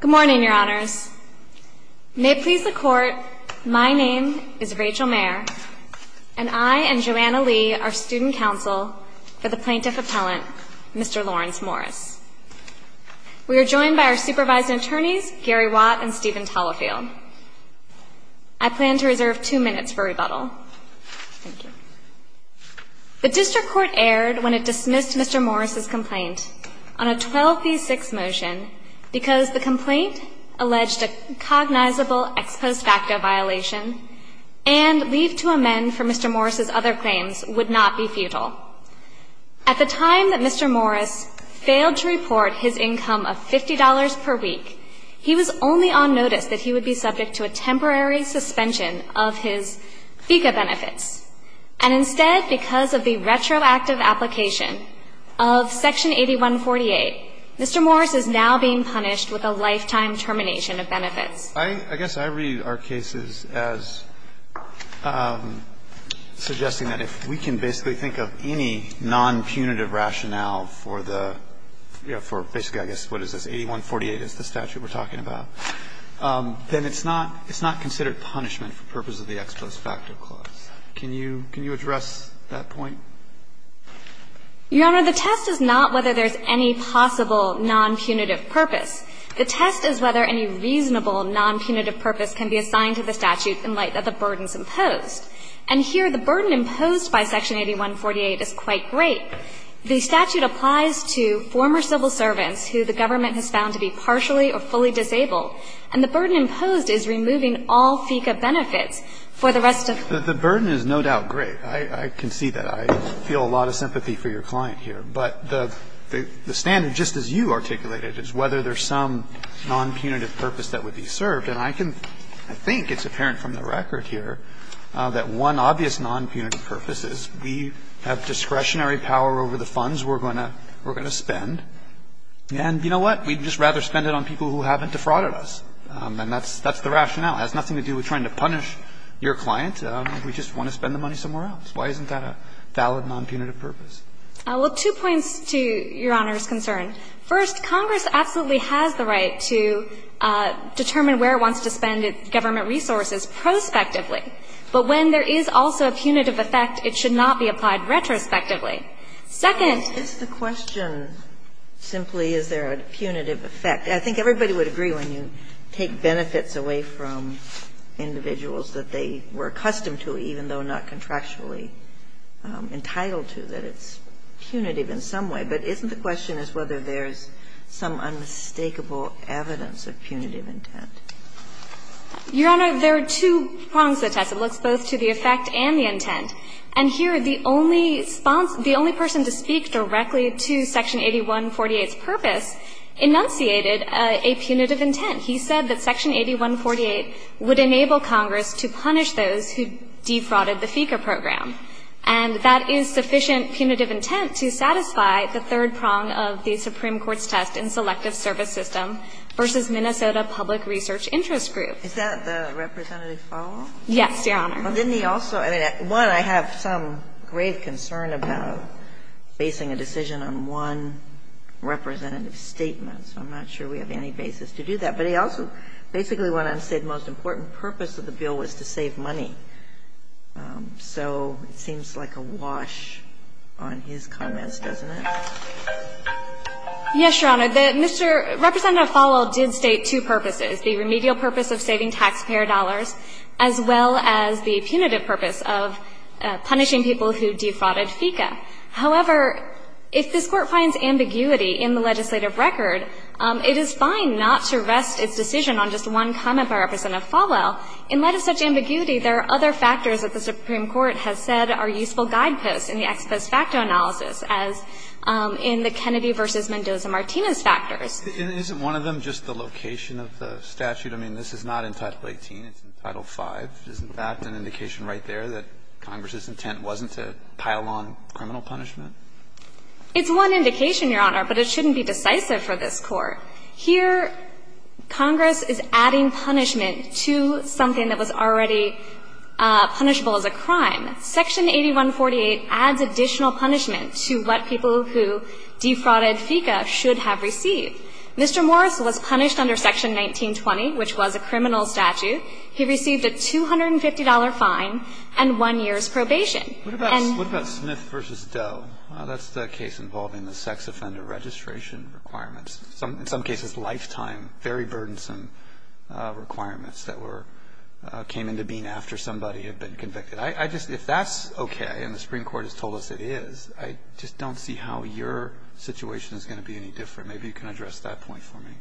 Good morning, your honors. May it please the court, my name is Rachel Mayer and I and Joanna Lee are student counsel for the plaintiff appellant, Mr. Lawrence Morris. We are joined by our supervising attorneys Gary Watt and Stephen Tallowfield. I plan to reserve two minutes for rebuttal. The district court erred when it dismissed Mr. Morris' complaint on a 12 v 6 motion because the complaint alleged a cognizable ex post facto violation and leave to amend for Mr. Morris' other claims would not be futile. At the time that Mr. Morris failed to report his income of $50 per week, he was only on notice that he would be subject to a temporary suspension of his FECA benefits and instead because of the retroactive application of section 8148, Mr. Morris is now being punished with a lifetime termination of benefits. I guess I read our cases as suggesting that if we can basically think of any non-punitive rationale for the, you know, for basically, I guess, what is this, 8148 is the statute we're talking about, then it's not considered punishment for purpose of the ex post facto clause. Can you address that point? Your Honor, the test is not whether there's any possible non-punitive purpose. The test is whether any reasonable non-punitive purpose can be assigned to the statute in light of the burdens imposed. And here the burden imposed by section 8148 is quite great. The statute applies to former civil servants who the government has found to be partially or fully disabled, and the burden imposed is removing all FECA benefits for the rest of the year. The burden is no doubt great. I can see that. I feel a lot of sympathy for your client here. But the standard, just as you articulated, is whether there's some non-punitive purpose that would be served, and I can, I think it's apparent from the record here that one obvious non-punitive purpose is we have discretionary power over the funds we're going to spend, and you know what? We'd just rather spend it on people who haven't defrauded us. And that's the rationale. It has nothing to do with trying to punish your client. We just want to spend the money somewhere else. Why isn't that a valid non-punitive purpose? Well, two points to Your Honor's concern. First, Congress absolutely has the right to determine where it wants to spend its government resources prospectively. But when there is also a punitive effect, it should not be applied retrospectively. Second. It's the question simply is there a punitive effect. I think everybody would agree when you take benefits away from individuals that they were accustomed to, even though not contractually entitled to, that it's punitive in some way. But isn't the question is whether there's some unmistakable evidence of punitive intent? Your Honor, there are two prongs to the test. It looks both to the effect and the intent. And here the only person to speak directly to Section 8148's purpose enunciated a punitive intent. He said that Section 8148 would enable Congress to punish those who defrauded the FECA program. And that is sufficient punitive intent to satisfy the third prong of the Supreme Court's test in selective service system versus Minnesota Public Research Interest Group. Is that the representative follow-up? Yes, Your Honor. Well, didn't he also – I mean, one, I have some grave concern about basing a decision on one representative statement. So I'm not sure we have any basis to do that. But he also basically went on to say the most important purpose of the bill was to save money. So it seems like a wash on his comments, doesn't it? Yes, Your Honor. The Mr. – Representative Fowle did state two purposes, the remedial purpose of saving taxpayer dollars as well as the punitive purpose of punishing people who defrauded FECA. However, if this Court finds ambiguity in the legislative record, it is fine not to rest its decision on just one comment by Representative Fowle. In light of such ambiguity, there are other factors that the Supreme Court has said are useful guideposts in the ex post facto analysis, as in the Kennedy v. Mendoza-Martinez factors. Isn't one of them just the location of the statute? I mean, this is not in Title 18. It's in Title 5. Isn't that an indication right there that Congress's intent wasn't to pile on criminal punishment? It's one indication, Your Honor, but it shouldn't be decisive for this Court. Here, Congress is adding punishment to something that was already punishable as a crime. Section 8148 adds additional punishment to what people who defrauded FECA should have received. Mr. Morris was punished under Section 1920, which was a criminal statute. He received a $250 fine and one year's probation. Roberts, what about Smith v. Doe? That's the case involving the sex offender registration requirements. In some cases, lifetime, very burdensome requirements that were came into being after somebody had been convicted. I just – if that's okay and the Supreme Court has told us it is, I just don't see how your situation is going to be any different. Maybe you can address that point for me.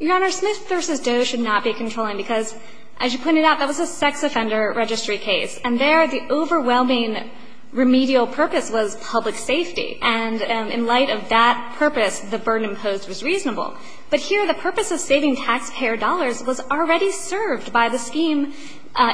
Your Honor, Smith v. Doe should not be controlling because, as you pointed out, that was a sex offender registry case. And there, the overwhelming remedial purpose was public safety. And in light of that purpose, the burden imposed was reasonable. But here, the purpose of saving taxpayer dollars was already served by the scheme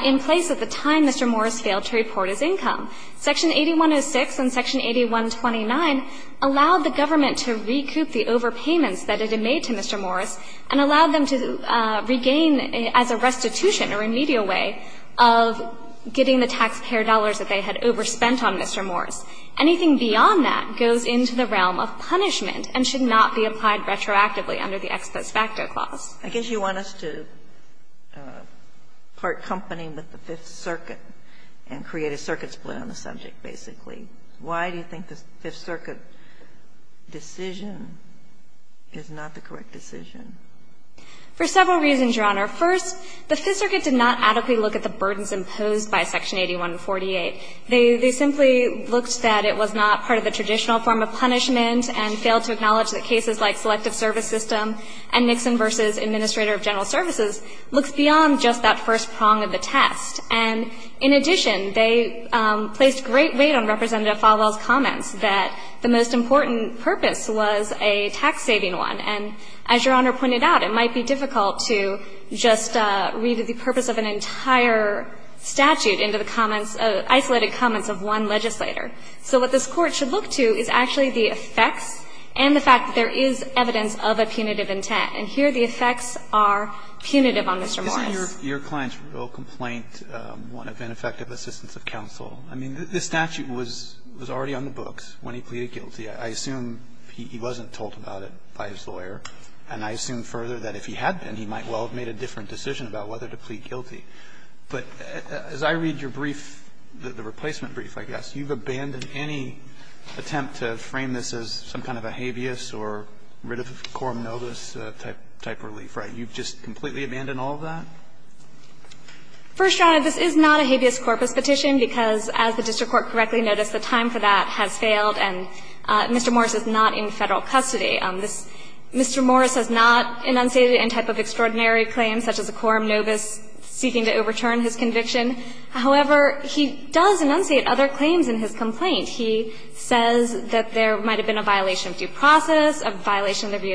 in place at the time Mr. Morris failed to report his income. Section 8106 and Section 8129 allowed the government to recoup the overpayments that it had made to Mr. Morris and allowed them to regain as a restitution or remedial way of getting the taxpayer dollars that they had overspent on Mr. Morris. Anything beyond that goes into the realm of punishment and should not be applied retroactively under the ex post facto clause. I guess you want us to part company with the Fifth Circuit and create a circuit split on the subject, basically. Why do you think the Fifth Circuit decision is not the correct decision? For several reasons, Your Honor. First, the Fifth Circuit did not adequately look at the burdens imposed by Section 8148. They simply looked that it was not part of the traditional form of punishment and failed to acknowledge that cases like Selective Service System and Nixon v. Administrator of General Services looks beyond just that first prong of the test. And in addition, they placed great weight on Representative Falwell's comments that the most important purpose was a tax-saving one. And as Your Honor pointed out, it might be difficult to just read the purpose of an entire statute into the comments, isolated comments of one legislator. So what this Court should look to is actually the effects and the fact that there is evidence of a punitive intent. And here the effects are punitive on Mr. Morris. Alito, did you say your client's real complaint would have been effective assistance of counsel? I mean, this statute was already on the books when he pleaded guilty. I assume he wasn't told about it by his lawyer, and I assume further that if he had been, he might well have made a different decision about whether to plead guilty. But as I read your brief, the replacement brief, I guess, you've abandoned any attempt to frame this as some kind of a habeas or rid of quorum novis type relief, right? You've just completely abandoned all of that? First, Your Honor, this is not a habeas corpus petition, because as the district court correctly noticed, the time for that has failed and Mr. Morris is not in Federal custody. This Mr. Morris has not enunciated any type of extraordinary claims such as a quorum novis seeking to overturn his conviction. However, he does enunciate other claims in his complaint. He says that there might have been a violation of due process, a violation of the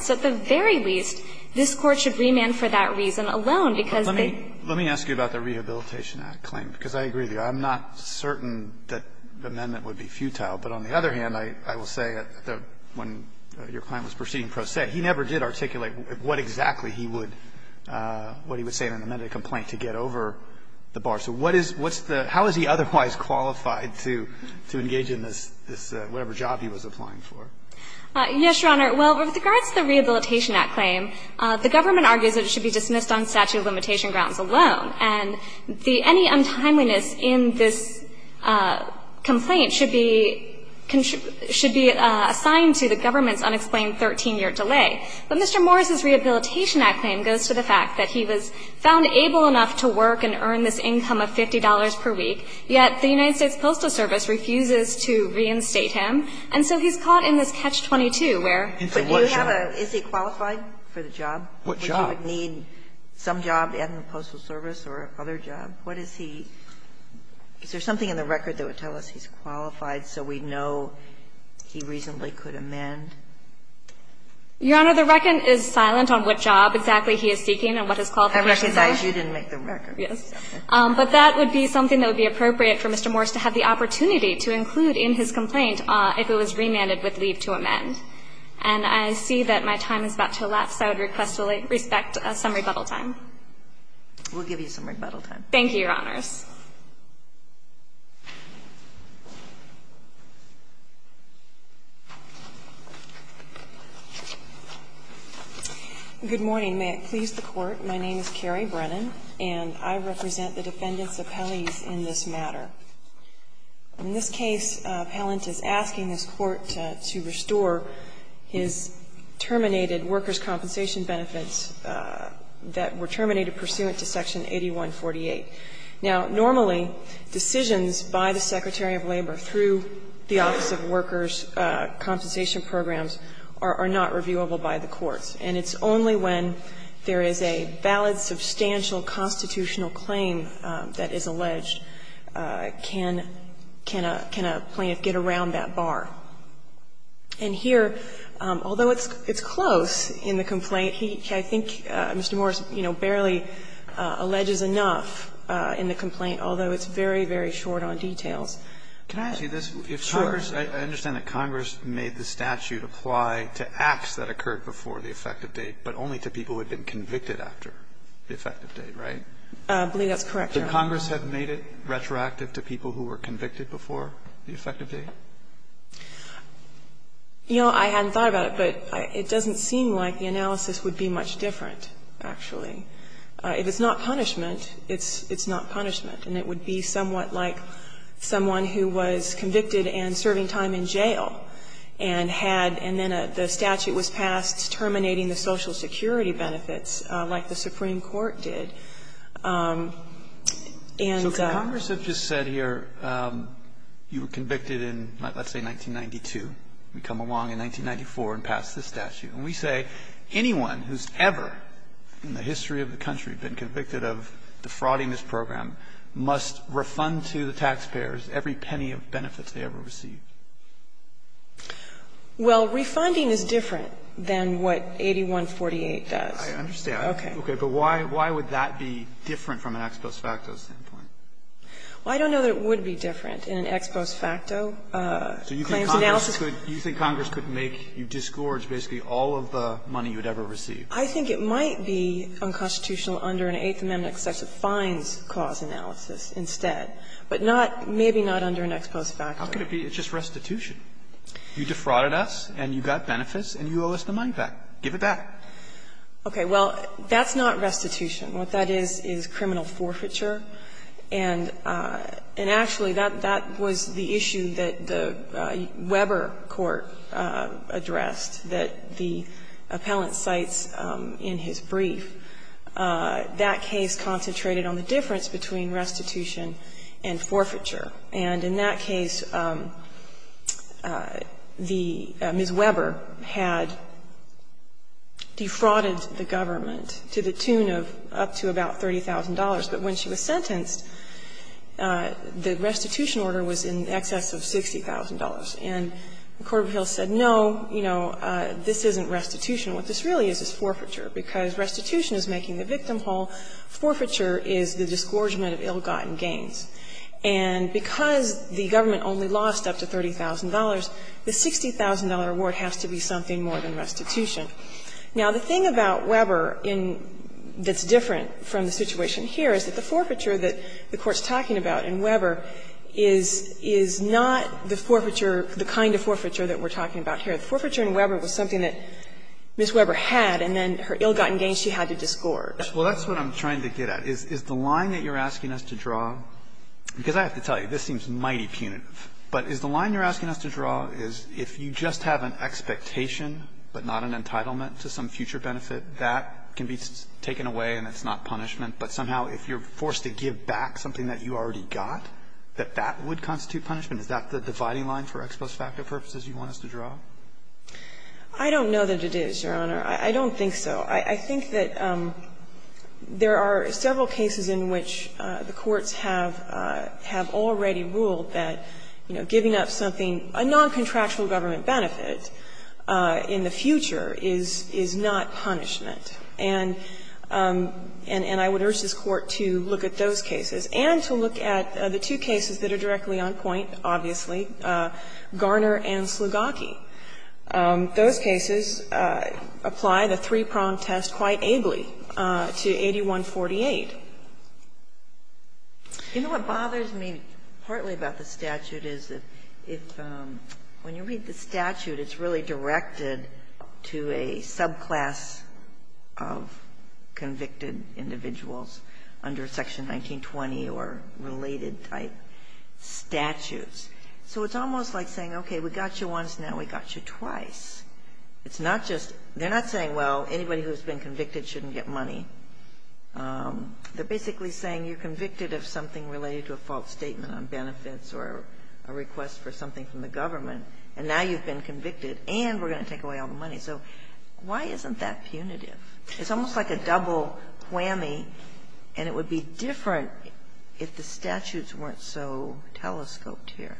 So at the very least, this Court should remand for that reason alone, because they Let me ask you about the Rehabilitation Act claim, because I agree with you. I'm not certain that the amendment would be futile, but on the other hand, I will say that when your client was proceeding pro se, he never did articulate what exactly he would, what he would say in an amended complaint to get over the bar. So what is, what's the, how is he otherwise qualified to, to engage in this, this whatever job he was applying for? Yes, Your Honor. Well, with regards to the Rehabilitation Act claim, the government argues that it should be dismissed on statute of limitation grounds alone. And the, any untimeliness in this complaint should be, should be assigned to the government's unexplained 13-year delay. But Mr. Morris's Rehabilitation Act claim goes to the fact that he was found able enough to work and earn this income of $50 per week, yet the United States Postal Service refuses to reinstate him. And so he's caught in this catch-22 where, but you have a, is he qualified for the job? What job? Would he need some job at the Postal Service or other job? What is he, is there something in the record that would tell us he's qualified so we know he reasonably could amend? Your Honor, the record is silent on what job exactly he is seeking and what his qualification is. I recognize you didn't make the record. Yes. But that would be something that would be appropriate for Mr. Morris to have the opportunity to include in his complaint if it was remanded with leave to amend. And I see that my time is about to elapse. I would request some rebuttal time. We'll give you some rebuttal time. Thank you, Your Honors. Good morning. May it please the Court. My name is Carrie Brennan, and I represent the defendants' appellees in this matter. In this case, Pallant is asking this Court to restore his terminated workers' compensation benefits that were terminated pursuant to Section 8148. Now, normally decisions by the Secretary of Labor through the Office of Workers' compensation programs are not reviewable by the courts, and it's only when there is a valid, substantial constitutional claim that is alleged can a plaintiff get around that bar. And here, although it's close in the complaint, I think Mr. Morris, you know, barely alleges enough in the complaint, although it's very, very short on details. Can I ask you this? If Congress, I understand that Congress made the statute apply to acts that occurred before the effective date, but only to people who had been convicted after the effective date, right? I believe that's correct, Your Honor. Could Congress have made it retroactive to people who were convicted before the effective date? You know, I hadn't thought about it, but it doesn't seem like the analysis would be much different, actually. If it's not punishment, it's not punishment, and it would be somewhat like someone who was convicted and serving time in jail and had, and then the statute was passed terminating the Social Security benefits like the Supreme Court did. And the Congress has just said here you were convicted in, let's say, 1992. We come along in 1994 and pass this statute. And we say anyone who's ever in the history of the country been convicted of defrauding this program must refund to the taxpayers every penny of benefits they ever received. Well, refunding is different than what 8148 does. I understand. Okay. Okay. But why would that be different from an ex post facto standpoint? Well, I don't know that it would be different in an ex post facto claims analysis. So you think Congress could make you disgorge basically all of the money you would ever receive? I think it might be unconstitutional under an Eighth Amendment excessive fines cause analysis instead, but not, maybe not under an ex post facto. It's just restitution. You defrauded us and you got benefits and you owe us the money back. Give it back. Okay. Well, that's not restitution. What that is, is criminal forfeiture. And actually, that was the issue that the Weber court addressed, that the appellant cites in his brief. That case concentrated on the difference between restitution and forfeiture. And in that case, the Ms. Weber had defrauded the government to the tune of up to about $30,000, but when she was sentenced, the restitution order was in excess of $60,000. And the court of appeals said, no, you know, this isn't restitution. What this really is, is forfeiture, because restitution is making the victim whole. Forfeiture is the disgorgement of ill-gotten gains. And because the government only lost up to $30,000, the $60,000 award has to be something more than restitution. Now, the thing about Weber that's different from the situation here is that the forfeiture that the Court's talking about in Weber is not the forfeiture, the kind of forfeiture that we're talking about here. The forfeiture in Weber was something that Ms. Weber had, and then her ill-gotten gains she had to disgorge. Well, that's what I'm trying to get at. Is the line that you're asking us to draw, because I have to tell you, this seems mighty punitive, but is the line you're asking us to draw is if you just have an expectation, but not an entitlement to some future benefit, that can be taken away and it's not punishment, but somehow if you're forced to give back something that you already got, that that would constitute punishment? Is that the dividing line for ex post facto purposes you want us to draw? I don't know that it is, Your Honor. I don't think so. I think that there are several cases in which the courts have already ruled that, you know, giving up something, a noncontractual government benefit in the future is not punishment. And I would urge this Court to look at those cases and to look at the two cases that are directly on point, obviously, Garner and Slugaki. Those cases apply the three-prong test quite ably to 8148. Ginsburg-Murray You know, what bothers me partly about the statute is if, when you read the statute, it's really directed to a subclass of convicted individuals under Section 1920 or related type statutes. So it's almost like saying, okay, we got you once, now we got you twice. It's not just they're not saying, well, anybody who's been convicted shouldn't get money. They're basically saying you're convicted of something related to a false statement on benefits or a request for something from the government, and now you've been convicted and we're going to take away all the money. So why isn't that punitive? It's almost like a double whammy, and it would be different if the statutes weren't so telescoped here.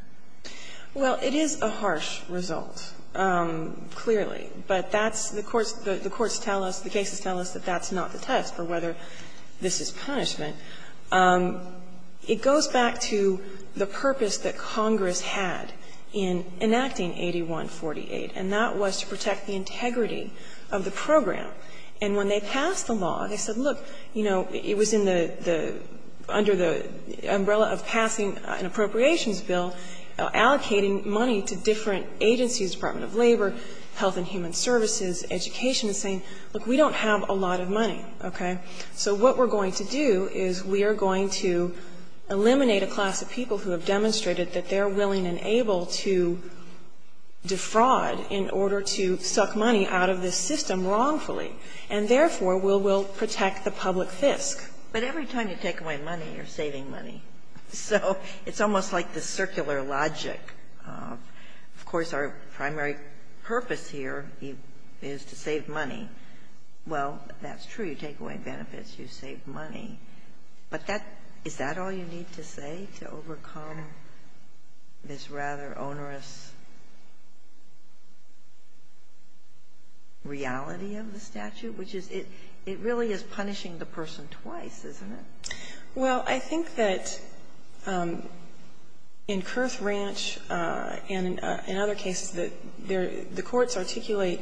Well, it is a harsh result, clearly, but that's the courts the courts tell us, the cases tell us that that's not the test for whether this is punishment. It goes back to the purpose that Congress had in enacting 8148, and that was to protect the integrity of the program. And when they passed the law, they said, look, you know, it was in the under the umbrella of passing an appropriations bill allocating money to different agencies, Department of Labor, Health and Human Services, Education, saying, look, we don't have a lot of money, okay, so what we're going to do is we are going to eliminate a class of people who have demonstrated that they're willing and able to defraud in order to suck money out of this system wrongfully, and therefore will protect the public fisc. But every time you take away money, you're saving money. So it's almost like the circular logic of, of course, our primary purpose here is to save money. Well, that's true. You take away benefits, you save money. But that – is that all you need to say to overcome this rather onerous reality of the statute, which is it really is punishing the person twice, isn't it? Well, I think that in Kurth Ranch and in other cases that the courts articulate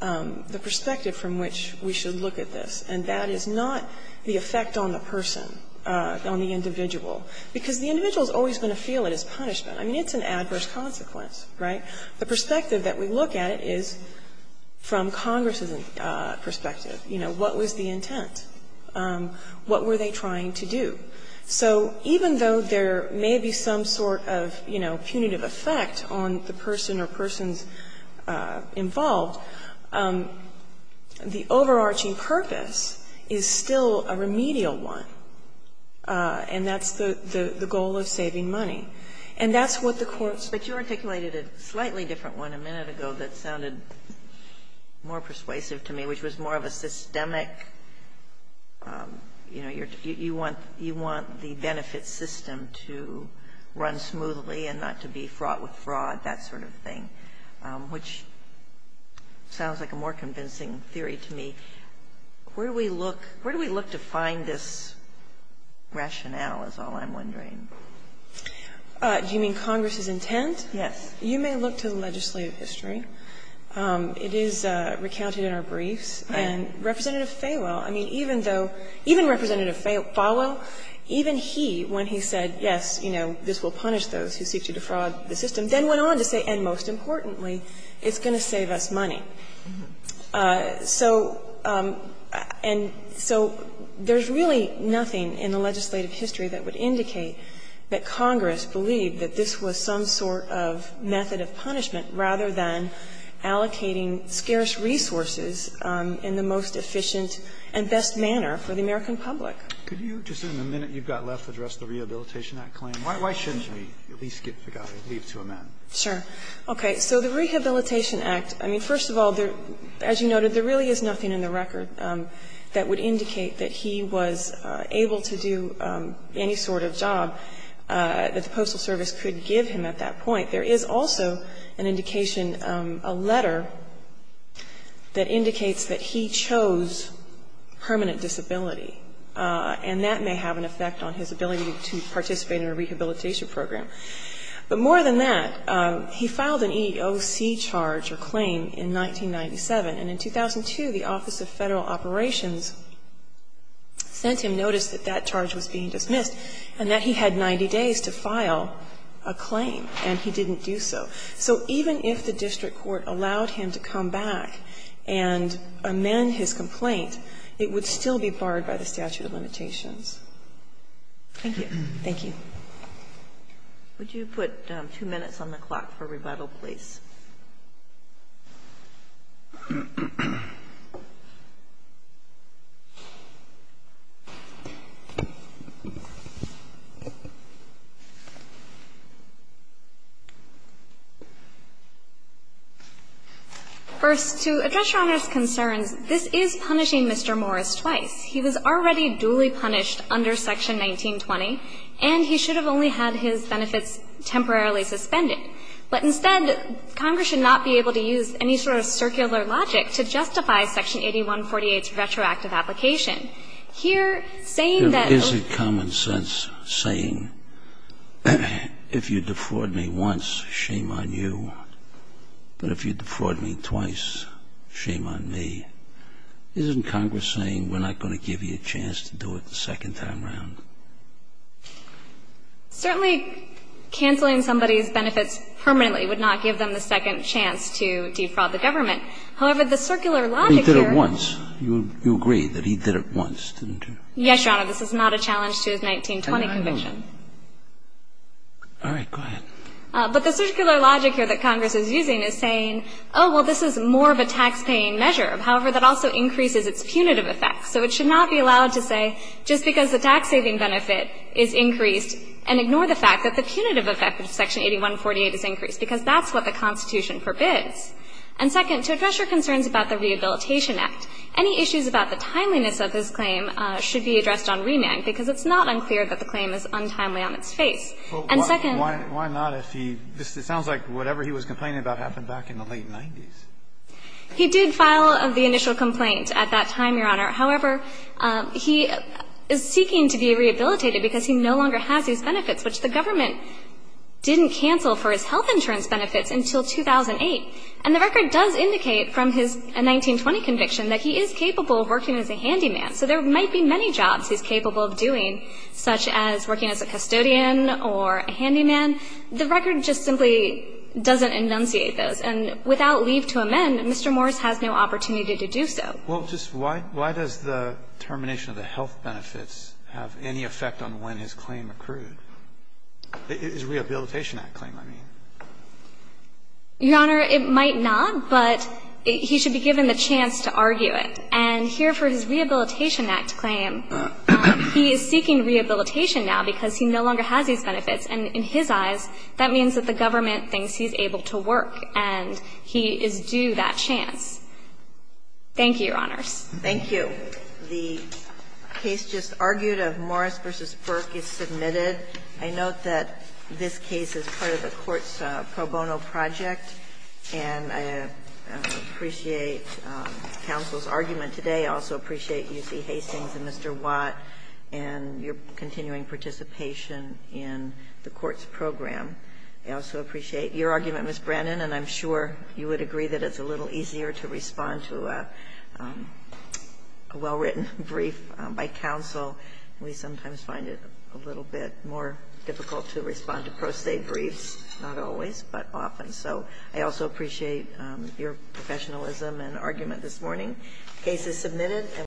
the perspective from which we should look at this, and that is not the effect on the person, on the individual, because the individual is always going to feel it as punishment. I mean, it's an adverse consequence, right? The perspective that we look at it is from Congress's perspective. You know, what was the intent? What were they trying to do? So even though there may be some sort of, you know, punitive effect on the person or persons involved, the overarching purpose is still a remedial one, and that's the goal of saving money. And that's what the courts say. Kagan, you cited a slightly different one a minute ago that sounded more persuasive to me, which was more of a systemic, you know, you want the benefit system to run smoothly and not to be fraught with fraud, that sort of thing, which sounds like a more convincing theory to me. Where do we look to find this rationale, is all I'm wondering? Do you mean Congress's intent? Yes. You may look to the legislative history. It is recounted in our briefs. And Representative Fawell, I mean, even though – even Representative Fawell, even he, when he said, yes, you know, this will punish those who seek to defraud the system, then went on to say, and most importantly, it's going to save us money. So – and so there's really nothing in the legislative history that would indicate that Congress believed that this was some sort of method of punishment rather than allocating scarce resources in the most efficient and best manner for the American public. Could you, just in the minute you've got left, address the Rehabilitation Act claim? Why shouldn't we at least get to leave to amend? Sure. Okay. So the Rehabilitation Act, I mean, first of all, there – as you noted, there really is nothing in the record that would indicate that he was able to do any sort of job that the Postal Service could give him at that point. There is also an indication – a letter that indicates that he chose permanent disability, and that may have an effect on his ability to participate in a rehabilitation program. But more than that, he filed an EEOC charge or claim in 1997, and in 2002, the Office of Federal Operations sent him notice that that charge was being dismissed and that he had 90 days to file a claim, and he didn't do so. So even if the district court allowed him to come back and amend his complaint, it would still be barred by the statute of limitations. Thank you. Thank you. First, to address Your Honor's concerns, this is punishing Mr. Morris twice. He was already duly punished under Section 1920, and he should have only had his benefits temporarily suspended. But instead, Congress should not be able to use any sort of circular logic to justify Section 8148's retroactive application. Here, saying that – Is it common sense saying, if you defraud me once, shame on you, but if you defraud me twice, shame on me, isn't Congress saying we're not going to give you a chance to do it the second time around? Certainly, canceling somebody's benefits permanently would not give them the second chance to defraud the government. However, the circular logic here – He did it once. You agree that he did it once, didn't you? Yes, Your Honor. This is not a challenge to his 1920 conviction. I know. All right. Go ahead. But the circular logic here that Congress is using is saying, oh, well, this is more of a taxpaying measure. However, that also increases its punitive effect. So it should not be allowed to say, just because the tax-saving benefit is increased, and ignore the fact that the punitive effect of Section 8148 is increased, because that's what the Constitution forbids. And second, to address your concerns about the Rehabilitation Act, any issues about the timeliness of his claim should be addressed on reneg, because it's not unclear that the claim is untimely on its face. And second – Why not if he – it sounds like whatever he was complaining about happened back in the late 90s. He did file the initial complaint at that time, Your Honor. However, he is seeking to be rehabilitated because he no longer has these benefits, which the government didn't cancel for his health insurance benefits until 2008. And the record does indicate from his 1920 conviction that he is capable of working as a handyman. So there might be many jobs he's capable of doing, such as working as a custodian or a handyman. The record just simply doesn't enunciate those. And without leave to amend, Mr. Morris has no opportunity to do so. Well, just why – why does the termination of the health benefits have any effect on when his claim accrued? His Rehabilitation Act claim, I mean. Your Honor, it might not, but he should be given the chance to argue it. And here for his Rehabilitation Act claim, he is seeking rehabilitation now because he no longer has these benefits. And in his eyes, that means that the government thinks he's able to work, and he is due that chance. Thank you, Your Honors. Thank you. The case just argued of Morris v. Burke is submitted. I note that this case is part of a court's pro bono project, and I appreciate counsel's argument today. I also appreciate UC Hastings and Mr. Watt and your continuing participation in the court's program. I also appreciate your argument, Ms. Brannon, and I'm sure you would agree that it's a little easier to respond to a well-written brief by counsel. We sometimes find it a little bit more difficult to respond to pro se briefs, not always, but often. So I also appreciate your professionalism and argument this morning. The case is submitted.